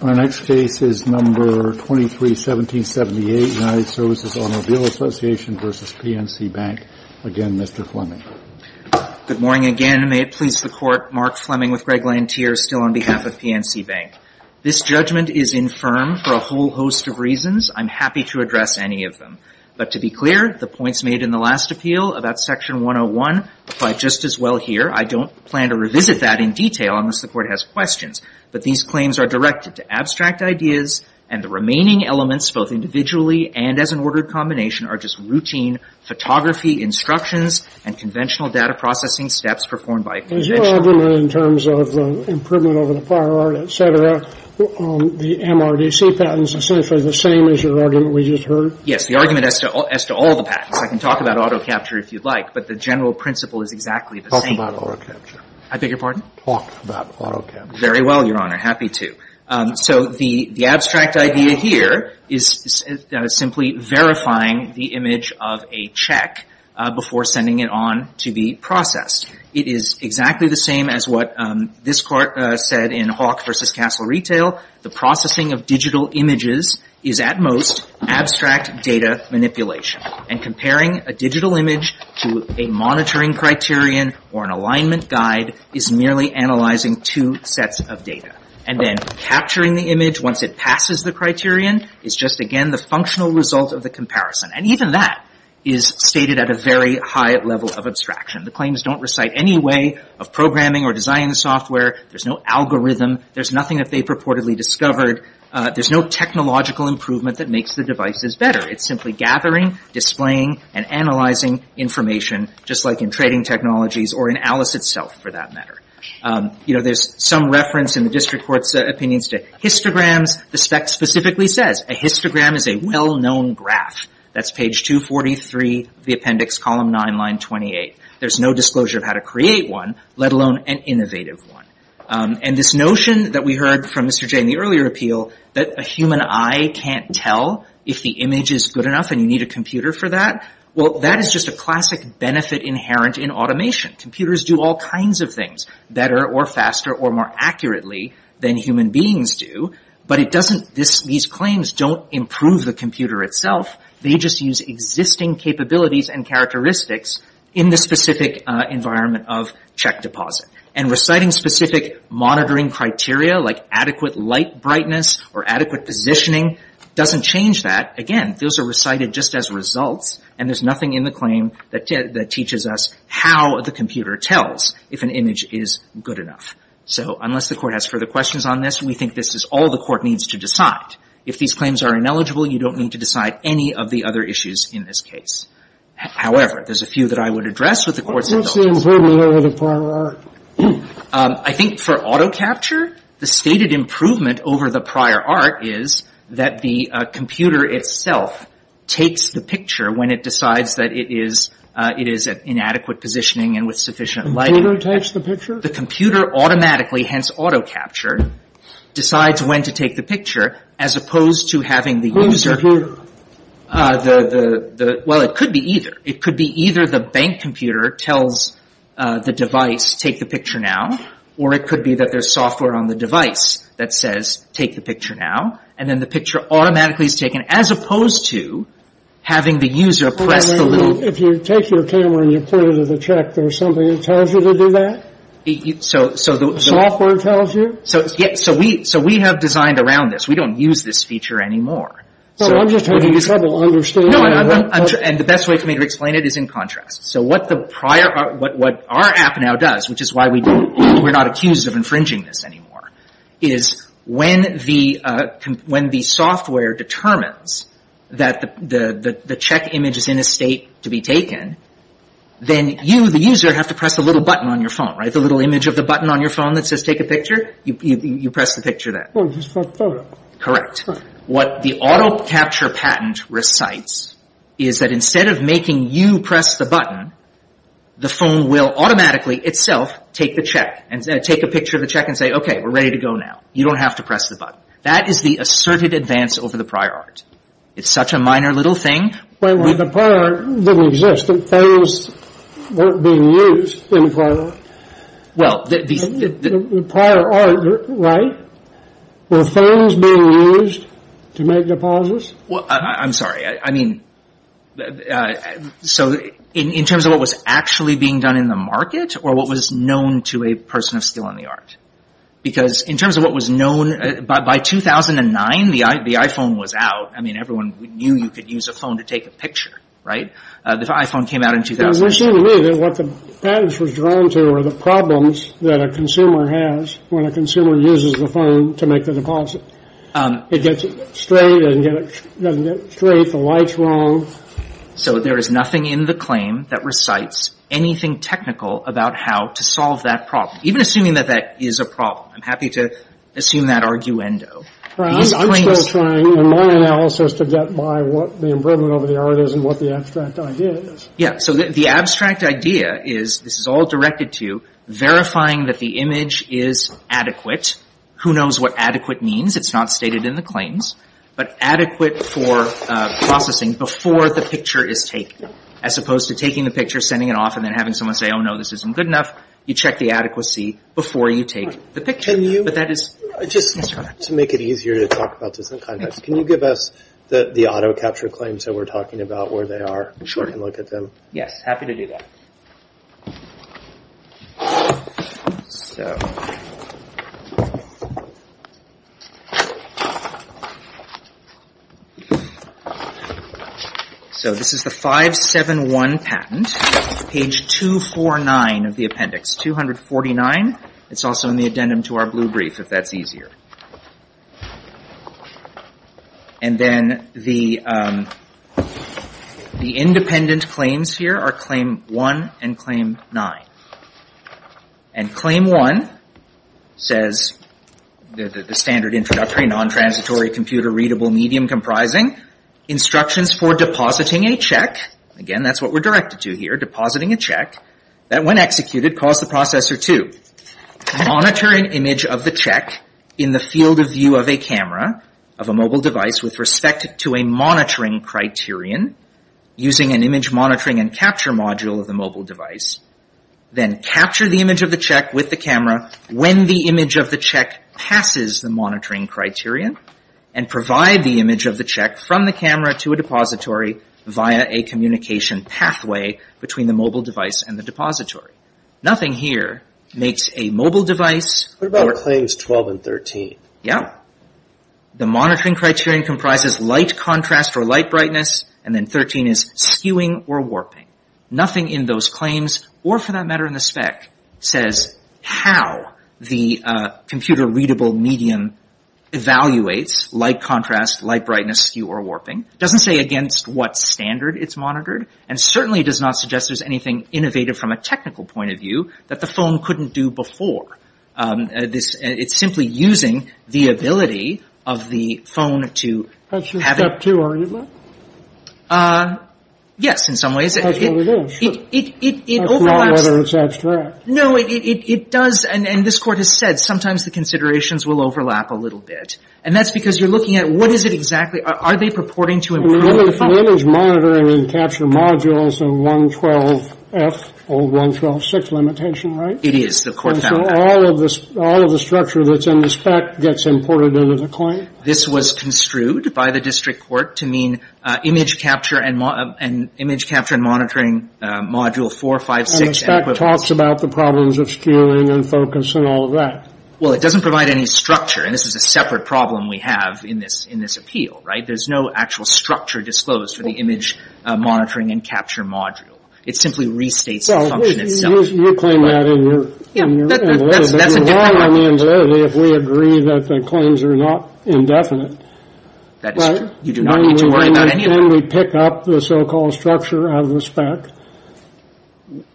Our next case is No. 23-1778, United Services Automobile Association v. PNC Bank. Again, Mr. Fleming. Good morning again. May it please the Court, Mark Fleming with Greg Lantier still on behalf of PNC Bank. This judgment is infirm for a whole host of reasons. I'm happy to address any of them. But to be clear, the points made in the last appeal about Section 101 apply just as well here. I don't plan to revisit that in detail unless the Court has questions. But these claims are directed to abstract ideas, and the remaining elements, both individually and as an ordered combination, are just routine photography instructions and conventional data processing steps performed by a conventional... As you argued in terms of improvement over the prior art, et cetera, the MRDC patents essentially the same as your argument we just heard? Yes, the argument as to all the patents. I can talk about auto capture if you'd like, but the general principle is exactly the same. Talk about auto capture. I beg your pardon? Talk about auto capture. Very well, Your Honor. Happy to. So the abstract idea here is simply verifying the image of a check before sending it on to be processed. It is exactly the same as what this Court said in Hawk v. Castle Retail. The processing of digital images is at most abstract data manipulation. And comparing a digital image to a monitoring criterion or an alignment guide is merely analyzing two sets of data. And then capturing the image once it passes the criterion is just, again, the functional result of the comparison. And even that is stated at a very high level of abstraction. The claims don't recite any way of programming or designing software. There's no algorithm. There's nothing that they purportedly discovered. There's no technological improvement that makes the devices better. It's simply gathering, displaying, and analyzing information, just like in trading technologies or in Alice itself, for that matter. You know, there's some reference in the district court's opinions to histograms. The spec specifically says a histogram is a well-known graph. That's page 243 of the appendix, column 9, line 28. There's no disclosure of how to create one, let alone an innovative one. And this notion that we heard from Mr. J in the earlier appeal, that a human eye can't tell if the image is good enough and you need a computer for that, well, that is just a classic benefit inherent in automation. Computers do all kinds of things better or faster or more accurately than human beings do. But these claims don't improve the computer itself. They just use existing capabilities and characteristics in the specific environment of check deposit. And reciting specific monitoring criteria, like adequate light brightness or adequate positioning, doesn't change that. Again, those are recited just as results. And there's nothing in the claim that teaches us how the computer tells if an image is good enough. So unless the court has further questions on this, we think this is all the court needs to decide. If these claims are ineligible, you don't need to decide any of the other issues in this case. However, there's a few that I would address with the court's indulgence. I think for auto capture, the stated improvement over the prior art is that the computer itself takes the picture when it decides that it is it is an inadequate positioning and with sufficient light to touch the picture of the computer automatically, hence auto capture, decides when to take the picture as opposed to having the user. The well, it could be either. It could be either the bank computer tells the device, take the picture now, or it could be that there's software on the device that says, take the picture now. And then the picture automatically is taken as opposed to having the user press the little. If you take your camera and you put it in the check, there's something that tells you to do that. So so the software tells you. So yes, so we so we have designed around this. We don't use this feature anymore. So I'm just trying to understand. No, I'm not. And the best way for me to explain it is in contrast. So what the prior what our app now does, which is why we we're not accused of infringing this anymore, is when the when the software determines that the check image is in a state to be taken, then you, the user, have to press a little button on your phone. Right. The little image of the button on your phone that says take a picture. You press the picture that is correct. What the auto capture patent recites is that instead of making you press the button, the phone will automatically itself take the check and take a picture of the check and say, OK, we're ready to go now. You don't have to press the button. That is the asserted advance over the prior art. It's such a minor little thing. When the prior didn't exist, the phones weren't being used in prior art, were phones being used to make deposits? Well, I'm sorry. I mean, so in terms of what was actually being done in the market or what was known to a person of skill in the art, because in terms of what was known by 2009, the iPhone was out. I mean, everyone knew you could use a phone to take a picture. Right. The iPhone came out in 2009. It seemed to me that what the patents was drawn to were the problems that a consumer has when a consumer uses the phone to make the deposit. It gets straight and doesn't get straight. The light's wrong. So there is nothing in the claim that recites anything technical about how to solve that problem, even assuming that that is a problem. I'm happy to assume that arguendo. I'm still trying in my analysis to get by what the improvement over the art is and what the abstract idea is. Yeah. So the abstract idea is this is all directed to verifying that the image is adequate. Who knows what adequate means? It's not stated in the claims, but adequate for processing before the picture is taken, as opposed to taking the picture, sending it off and then having someone say, oh, no, this isn't good enough. You check the adequacy before you take the picture. But that is just to make it easier to talk about this in context. Can you give us the auto capture claims that we're talking about where they are? Sure. Look at them. Yes. Happy to do that. So this is the 571 patent page 249 of the appendix 249. It's also in the addendum to our blue brief, if that's easier. And then the independent claims here are claim one and claim nine. And claim one says the standard introductory non-transitory computer readable medium comprising instructions for depositing a check. Again, that's what we're directed to here. Depositing a check that, when executed, costs the processor two. Monitor an image of the check in the field of view of a camera of a mobile device with respect to a monitoring criterion using an image monitoring and capture module of the mobile device. Then capture the image of the check with the camera when the image of the check passes the monitoring criterion and provide the image of the check from the camera to a depository via a communication pathway between the mobile device and the depository. Nothing here makes a mobile device... What about claims 12 and 13? Yeah. The monitoring criterion comprises light contrast or light brightness and then 13 is skewing or warping. Nothing in those claims, or for that matter in the spec, says how the computer readable medium evaluates light contrast, light brightness, skew or warping. Doesn't say against what standard it's monitored and certainly does not suggest there's anything innovative from a technical point of view that the phone couldn't do before. This it's simply using the ability of the phone to... That's your step two argument? Yes, in some ways. That's what it is. It overlaps... That's not whether it's abstract. No, it does. And this Court has said sometimes the considerations will overlap a little bit. And that's because you're looking at what is it exactly? Are they purporting to improve the phone? The image monitoring and capture modules are 112F or 1126 limitation, right? It is. The Court found that. And so all of the structure that's in the spec gets imported into the claim? This was construed by the District Court to mean image capture and monitoring module 456 and equivalents. And the spec talks about the problems of skewing and focus and all of that. Well, it doesn't provide any structure. And this is a separate problem we have in this in this appeal, right? There's no actual structure disclosed for the image monitoring and capture module. It simply restates the function itself. You claim that in your... Yeah, that's a different point. ...if we agree that the claims are not indefinite. That is true. You do not need to worry about any of that. And then we pick up the so-called structure of the spec.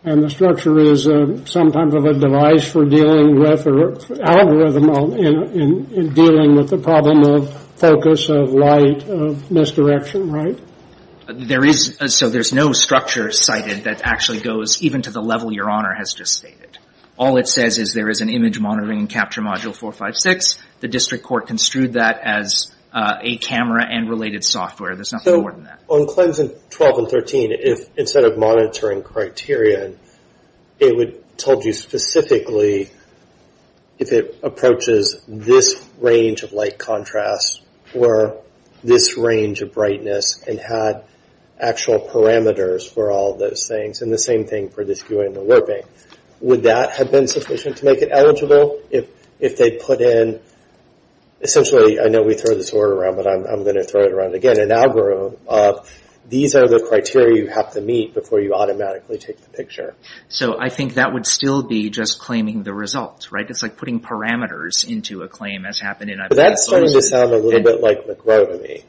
And the structure is some type of a device for dealing with an algorithm in dealing with the problem of focus, of light, of misdirection, right? There is, so there's no structure cited that actually goes even to the level Your Honor has just stated. All it says is there is an image monitoring and capture module 456. The District Court construed that as a camera and related software. There's nothing more than that. On claims 12 and 13, if instead of monitoring criteria, it would told you specifically if it approaches this range of light contrast or this range of brightness and had actual parameters for all those things. And the same thing for this viewing and warping. Would that have been sufficient to make it eligible if they put in, essentially, I know we throw this word around, but I'm going to throw it around again. An algorithm of these are the criteria you have to meet before you automatically take the picture. So I think that would still be just claiming the results, right? It's like putting parameters into a claim as happened. That's starting to sound a little bit like McGrow to me.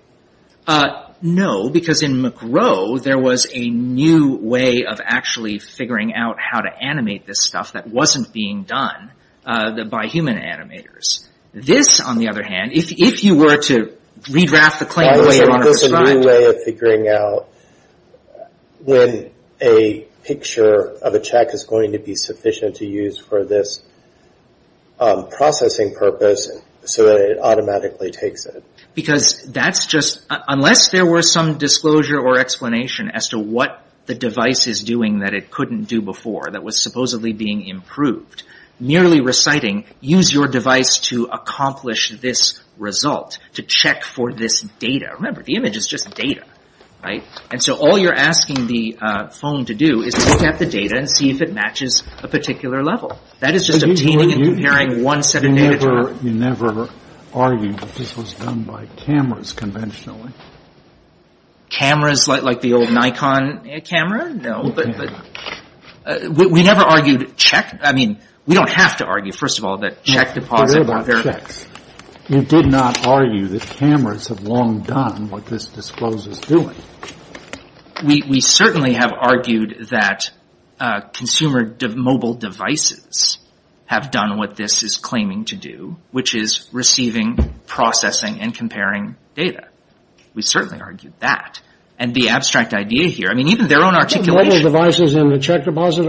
No, because in McGrow, there was a new way of actually figuring out how to animate this stuff that wasn't being done by human animators. This, on the other hand, if you were to redraft the claim, there's a new way of figuring out when a picture of a check is going to be sufficient to use for this processing purpose so that it automatically takes it. Because that's just unless there were some disclosure or explanation as to what the device is doing that it couldn't do before that was supposedly being improved. Merely reciting, use your device to accomplish this result, to check for this data. Remember, the image is just data, right? And so all you're asking the phone to do is look at the data and see if it matches a particular level. That is just obtaining and comparing one set of data. You never argued that this was done by cameras conventionally. Cameras like the old Nikon camera? No, but we never argued check. I mean, we don't have to argue, first of all, that check deposit. You did not argue that cameras have long done what this discloses doing. We certainly have argued that consumer mobile devices have done what this is claiming to do, which is receiving, processing and comparing data. We certainly argued that. And the abstract idea here, I mean, even their own articulation devices in the check deposit.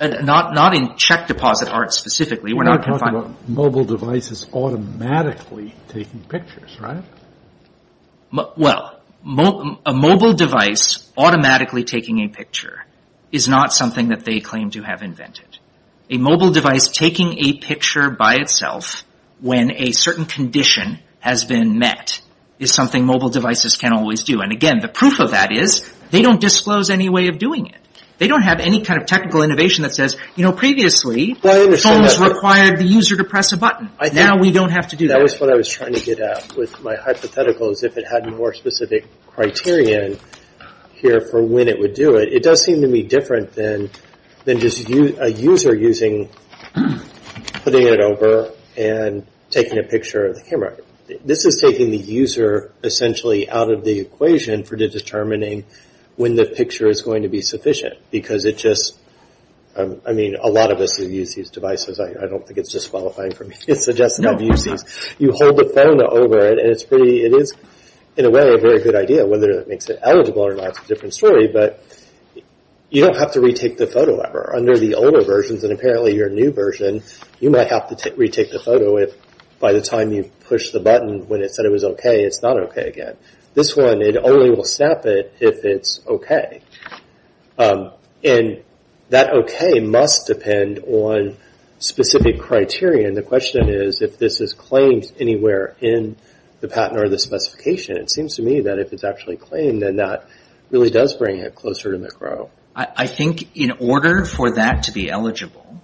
Not in check deposit art specifically. We're not talking about mobile devices automatically taking pictures, right? Well, a mobile device automatically taking a picture is not something that they claim to have invented. A mobile device taking a picture by itself when a certain condition has been met is something mobile devices can always do. And again, the proof of that is they don't disclose any way of doing it. They don't have any kind of technical innovation that says, you know, previously, phones required the user to press a button. Now we don't have to do that. That was what I was trying to get at with my hypothetical is if it had more specific criterion here for when it would do it. It does seem to be different than just a user using, putting it over and taking a picture of the camera. This is taking the user essentially out of the equation for determining when the picture is going to be sufficient. Because it just, I mean, a lot of us who use these devices, I don't think it's disqualifying for me to suggest that I've used these. You hold the phone over it and it's pretty, it is in a way a very good idea whether it makes it eligible or not, it's a different story. But you don't have to retake the photo ever. Under the older versions, and apparently your new version, you might have to retake the photo if by the time you push the button when it said it was OK, it's not OK again. This one, it only will snap it if it's OK. And that OK must depend on specific criterion. The question is if this is claimed anywhere in the patent or the specification. It seems to me that if it's actually claimed, then that really does bring it closer to the crow. I think in order for that to be eligible,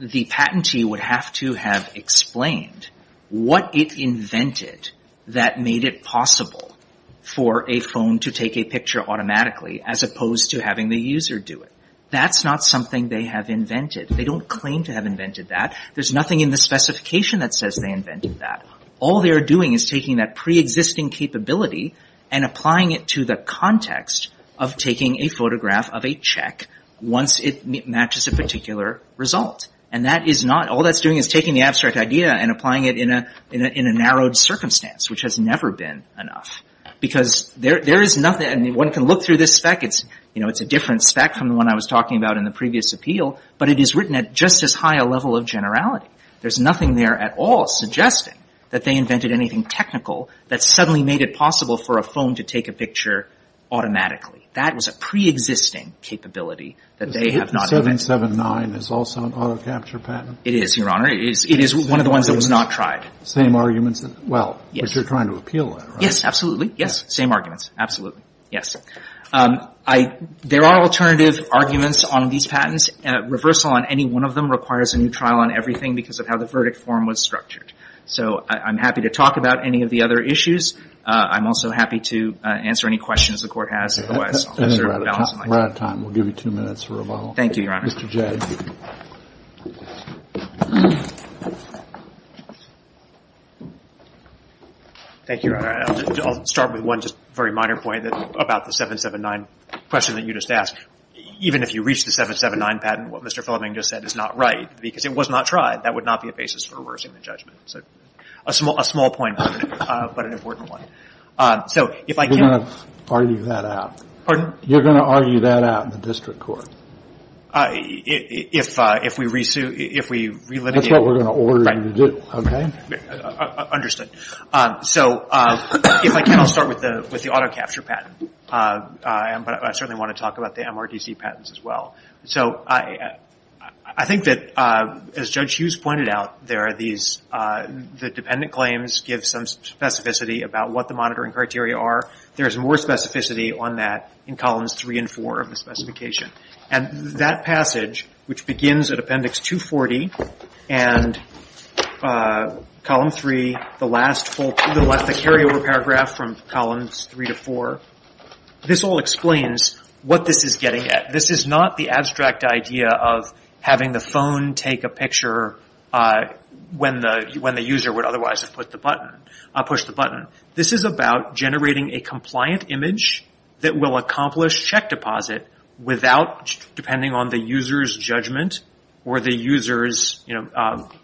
the patentee would have to have explained what it invented that made it possible for a phone to take a picture automatically, as opposed to having the user do it. That's not something they have invented. They don't claim to have invented that. There's nothing in the specification that says they invented that. All they're doing is taking that pre-existing capability and applying it to the context of taking a photograph of a check once it matches a particular result. And that is not, all that's doing is taking the abstract idea and applying it in a narrowed circumstance, which has never been enough. Because there is nothing, and one can look through this spec, it's, you know, it's a different spec from the one I was talking about in the previous appeal. But it is written at just as high a level of generality. There's nothing there at all suggesting that they invented anything technical that suddenly made it possible for a phone to take a picture automatically. That was a pre-existing capability that they have not. 779 is also an auto capture patent. It is, Your Honor. It is. It is one of the ones that was not tried. Same arguments. Well, yes, you're trying to appeal. Yes, absolutely. Yes. Same arguments. Absolutely. Yes. I, there are alternative arguments on these patents. Reversal on any one of them requires a new trial on everything because of how the verdict form was structured. So I'm happy to talk about any of the other issues. I'm also happy to answer any questions the court has. Otherwise, I'll just sort of balance it like that. We're out of time. We'll give you two minutes for rebuttal. Thank you, Your Honor. Mr. Jay. Thank you, Your Honor. I'll start with one just very minor point about the 779 question that you just asked. Even if you reach the 779 patent, what Mr. Fleming just said is not right because it was not tried. That would not be a basis for reversing the judgment. So a small point, but an important one. So if I can... You're going to argue that out. Pardon? You're going to argue that out in the district court. That's what we're going to order you to do, okay? Understood. So if I can, I'll start with the auto capture patent. But I certainly want to talk about the MRDC patents as well. So I think that, as Judge Hughes pointed out, the dependent claims give some specificity about what the monitoring criteria are. There's more specificity on that in columns three and four of the specification. And that passage, which begins at appendix 240 and column three, the last full paragraph from columns three to four, this all explains what this is getting at. This is not the abstract idea of having the phone take a picture when the user would otherwise have pushed the button. This is about generating a compliant image that will accomplish check deposit without, depending on the user's judgment or the user's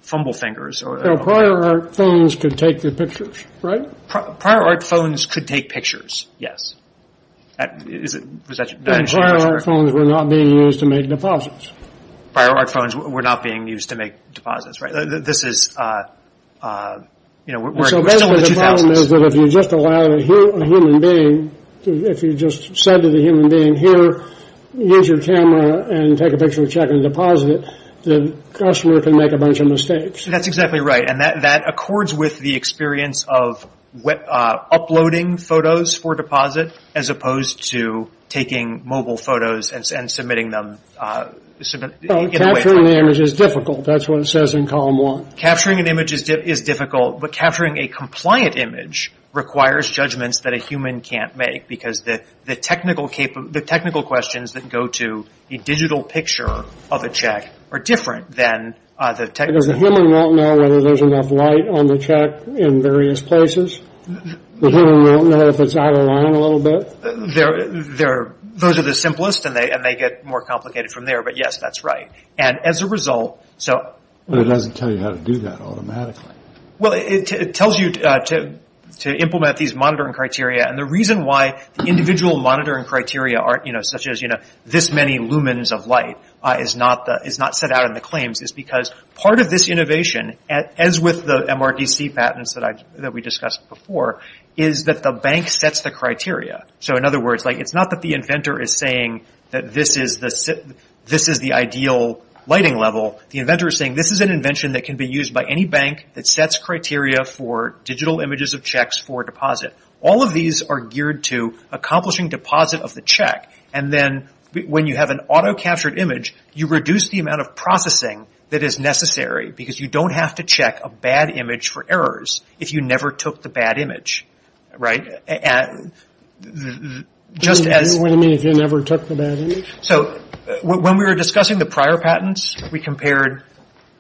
fumble fingers. So prior art phones could take the pictures, right? Prior art phones could take pictures, yes. Prior art phones were not being used to make deposits. Prior art phones were not being used to make deposits, right? This is, you know, we're still in the 2000s. So basically the problem is that if you just allow a human being, if you just said to the human being, here, use your camera and take a picture of check and deposit, the customer can make a bunch of mistakes. That's exactly right. And that accords with the experience of uploading photos for deposit as opposed to taking mobile photos and submitting them. Capturing the image is difficult. That's what it says in column one. Capturing an image is difficult. But capturing a compliant image requires judgments that a human can't make because the technical questions that go to a digital picture of a check are different than the technical. Because the human won't know whether there's enough light on the check in various places. The human won't know if it's out of line a little bit. Those are the simplest and they get more complicated from there. But yes, that's right. And as a result, so. But it doesn't tell you how to do that automatically. Well, it tells you to implement these monitoring criteria. And the reason why the individual monitoring criteria aren't, you know, such as, you know, this many lumens of light is not set out in the claims is because part of this innovation, as with the MRDC patents that we discussed before, is that the bank sets the criteria. So in other words, it's not that the inventor is saying that this is the ideal lighting level. The inventor is saying this is an invention that can be used by any bank that sets criteria for digital images of checks for deposit. All of these are geared to accomplishing deposit of the check. And then when you have an auto-captured image, you reduce the amount of processing that is necessary because you don't have to check a bad image for errors if you never took the bad image. Right. Just as you never took the bad. So when we were discussing the prior patents, we compared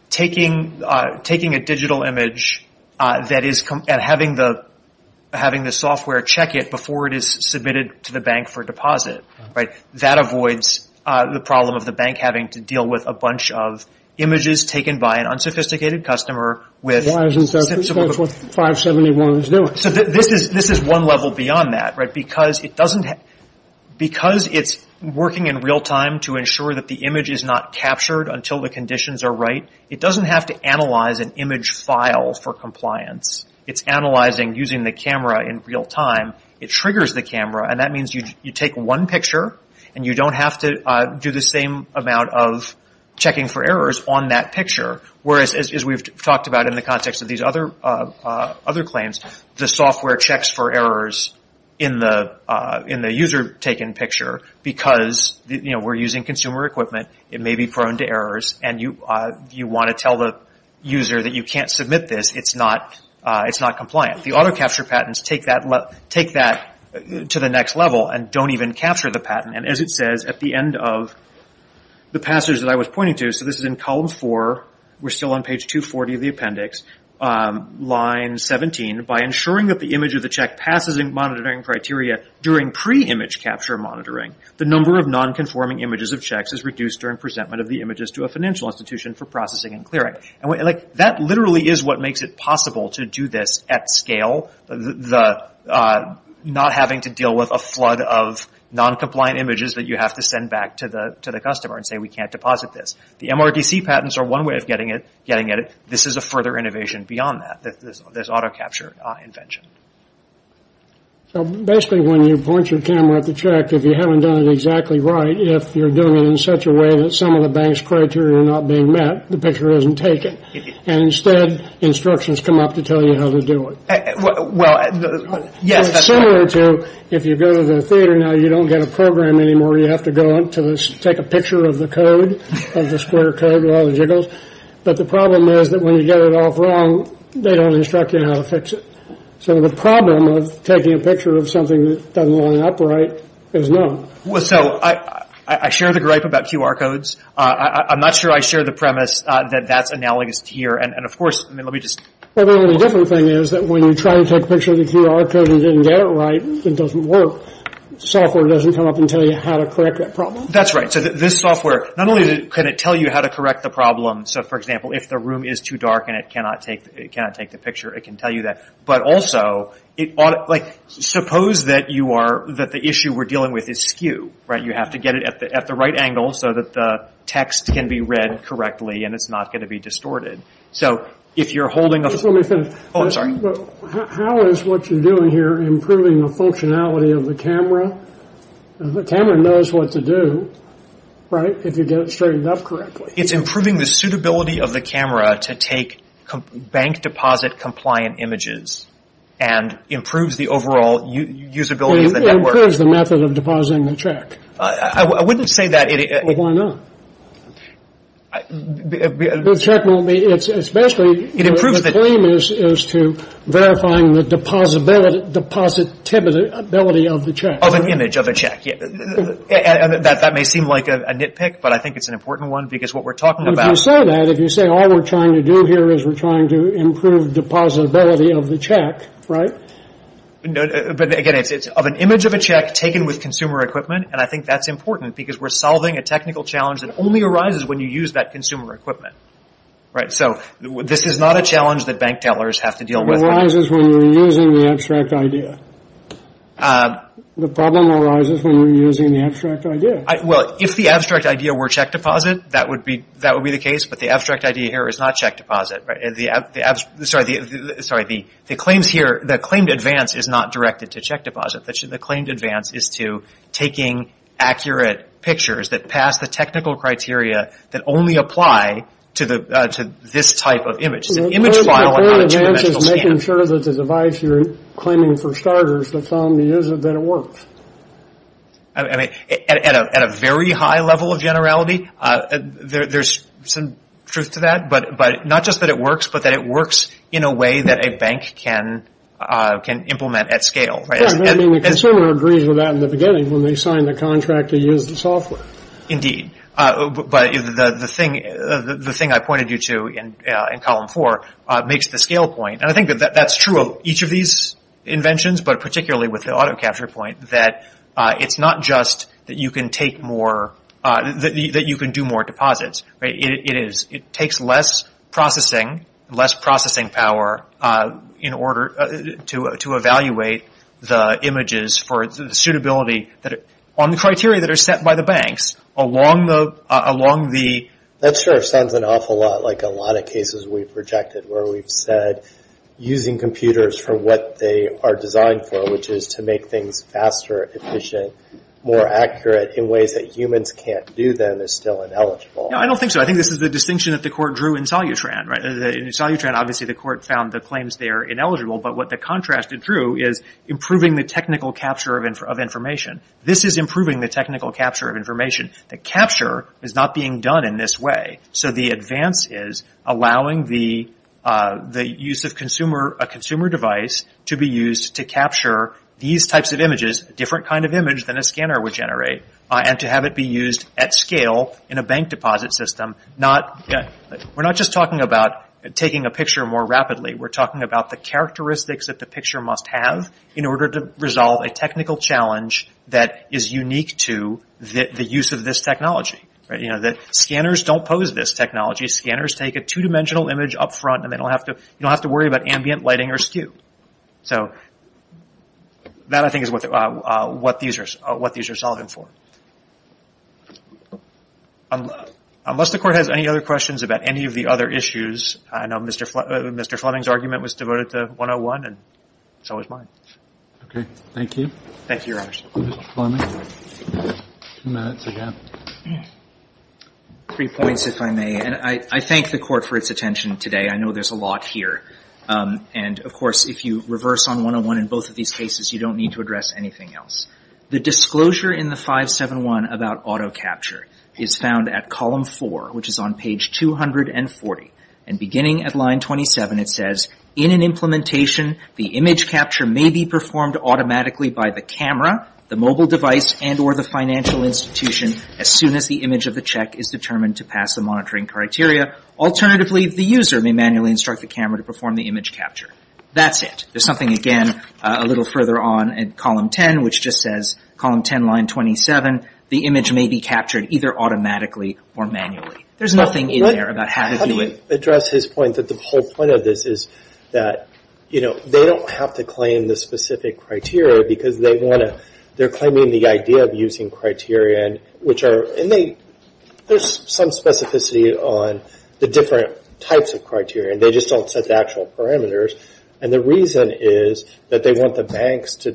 taking taking a digital image that is having the having the software check it before it is submitted to the bank for deposit. Right. That avoids the problem of the bank having to deal with a bunch of images taken by an unsophisticated customer. Why isn't that what 571 is doing? So this is this is one level beyond that. Right. Because it doesn't because it's working in real time to ensure that the image is not captured until the conditions are right. It doesn't have to analyze an image file for compliance. It's analyzing using the camera in real time. It triggers the camera. And that means you take one picture and you don't have to do the same amount of checking for errors on that picture. Whereas as we've talked about in the context of these other other claims, the software checks for errors in the in the user taken picture because we're using consumer equipment. It may be prone to errors and you want to tell the user that you can't submit this. It's not it's not compliant. The auto capture patents take that take that to the next level and don't even capture the patent. And as it says at the end of the passage that I was pointing to. So this is in column four. We're still on page 240 of the appendix line 17 by ensuring that the image of the check passes in monitoring criteria during pre image capture monitoring. The number of nonconforming images of checks is reduced during presentment of the images to a financial institution for processing and clearing. And that literally is what makes it possible to do this at scale. The not having to deal with a flood of noncompliant images that you have to send back to the to the customer and say we can't deposit this. The MRDC patents are one way of getting it getting it. This is a further innovation beyond that. There's auto capture invention. So basically when you point your camera at the check, if you haven't done it exactly right, if you're doing it in such a way that some of the bank's criteria are not being met, the picture isn't taken. And instead instructions come up to tell you how to do it. Well, yes, that's similar to if you go to the theater. Now, you don't get a program anymore. You have to go to take a picture of the code of the square code. Well, the jiggles. But the problem is that when you get it all wrong, they don't instruct you how to fix it. So the problem of taking a picture of something that doesn't line up right is not so I share the gripe about QR codes. I'm not sure I share the premise that that's analogous here. And of course, I mean, let me just different thing is that when you try to take a picture of the QR code and didn't get it right, it doesn't work. Software doesn't come up and tell you how to correct that problem. That's right. So this software, not only can it tell you how to correct the problem. So, for example, if the room is too dark and it cannot take it, cannot take the picture, it can tell you that. But also it ought to like suppose that you are that the issue we're dealing with is skew. Right. You have to get it at the at the right angle so that the text can be read correctly and it's not going to be distorted. So if you're holding a phone, I'm sorry, how is what you're doing here improving the functionality of the camera? The camera knows what to do. Right. If you get it straightened up correctly, it's improving the suitability of the camera to take bank deposit compliant images and improves the overall usability of the network as the method of depositing the check. I wouldn't say that. Why not? Technically, it's especially it improves the claim is to verifying the depositability of the check of an image of a check. That may seem like a nitpick, but I think it's an important one because what we're talking about is that if you say all we're trying to do here is we're trying to improve the depositability of the check. Right. But again, it's of an image of a check taken with consumer equipment. And I think that's important because we're solving a technical challenge that only arises when you use that consumer equipment. Right. So this is not a challenge that bank tellers have to deal with. It arises when we're using the abstract idea. The problem arises when we're using the abstract idea. Well, if the abstract idea were check deposit, that would be that would be the case. But the abstract idea here is not check deposit. The claims here, the claimed advance is not directed to check deposit. The claimed advance is to taking accurate pictures that pass the technical criteria that only apply to this type of image. It's an image file and not a two-dimensional scan. The claimed advance is making sure that the device you're claiming for starters, that's on the user, that it works. I mean, at a very high level of generality, there's some truth to that. But not just that it works, but that it works in a way that a bank can implement at scale. Right. I mean, the consumer agrees with that in the beginning when they sign the contract to use the software. Indeed. But the thing I pointed you to in column four makes the scale point. And I think that that's true of each of these inventions, but particularly with the auto capture point that it's not just that you can take more, that you can do more deposits. It is. It takes less processing, less processing power in order to evaluate the images for the suitability that on the criteria that are set by the banks along the along the. That sort of sounds an awful lot like a lot of cases we've projected where we've said using computers for what they are designed for, which is to make things faster, efficient, more accurate in ways that humans can't do that are still ineligible. No, I don't think so. I think this is the distinction that the court drew in Solutran. Right. In Solutran, obviously, the court found the claims they are ineligible. But what the contrast it drew is improving the technical capture of information. This is improving the technical capture of information. The capture is not being done in this way. So the advance is allowing the use of a consumer device to be used to capture these types of images, a different kind of image than a scanner would generate, and to have it be used at scale in a bank deposit system. We're not just talking about taking a picture more rapidly. We're talking about the characteristics that the picture must have in order to resolve a technical challenge that is unique to the use of this technology. Scanners don't pose this technology. Scanners take a two-dimensional image up front, and they don't have to worry about ambient lighting or skew. That, I think, is what these are solving for. Unless the court has any other questions about any of the other issues, I know Mr. Fleming's argument was devoted to 101, and so is mine. Okay. Thank you. Thank you, Your Honor. Mr. Fleming, two minutes again. Three points, if I may. And I thank the court for its attention today. I know there's a lot here. And, of course, if you reverse on 101 in both of these cases, you don't need to address anything else. The disclosure in the 571 about auto capture is found at column 4, which is on page 240. And beginning at line 27, it says, In an implementation, the image capture may be performed automatically by the camera, the mobile device, and or the financial institution, as soon as the image of the check is determined to pass the monitoring criteria. Alternatively, the user may manually instruct the camera to perform the image capture. That's it. There's something, again, a little further on in column 10, which just says, Column 10, line 27, the image may be captured either automatically or manually. There's nothing in there about how to do it. How do you address his point that the whole point of this is that, you know, they don't have to claim the specific criteria because they want to, they're claiming the idea of using criteria, which are, and they, there's some specificity on the different types of criteria. They just don't set the actual parameters. And the reason is that they want the banks to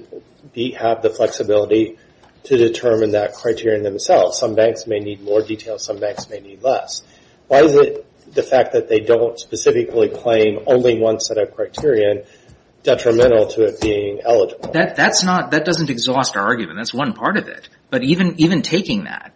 have the flexibility to determine that criteria themselves. Some banks may need more detail. Some banks may need less. Why is it the fact that they don't specifically claim only one set of criteria detrimental to it being eligible? That's not, that doesn't exhaust our argument. That's one part of it. But even taking that,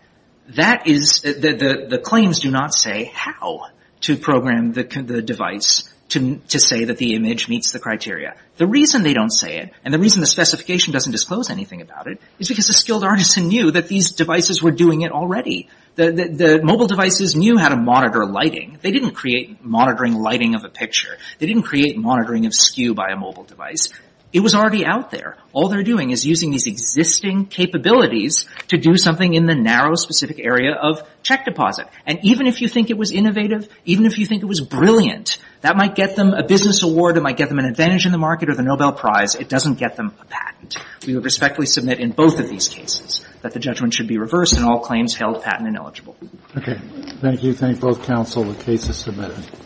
that is, the claims do not say how to program the device to say that the image meets the criteria. The reason they don't say it, and the reason the specification doesn't disclose anything about it, is because the skilled artisan knew that these devices were doing it already. The mobile devices knew how to monitor lighting. They didn't create monitoring lighting of a picture. They didn't create monitoring of skew by a mobile device. It was already out there. All they're doing is using these existing capabilities to do something in the narrow specific area of check deposit. And even if you think it was innovative, even if you think it was brilliant, that might get them a business award. It might get them an advantage in the market or the Nobel Prize. It doesn't get them a patent. We would respectfully submit in both of these cases that the judgment should be reversed and all claims held patent ineligible. Okay. Thank you. Thank both counsel. The case is submitted.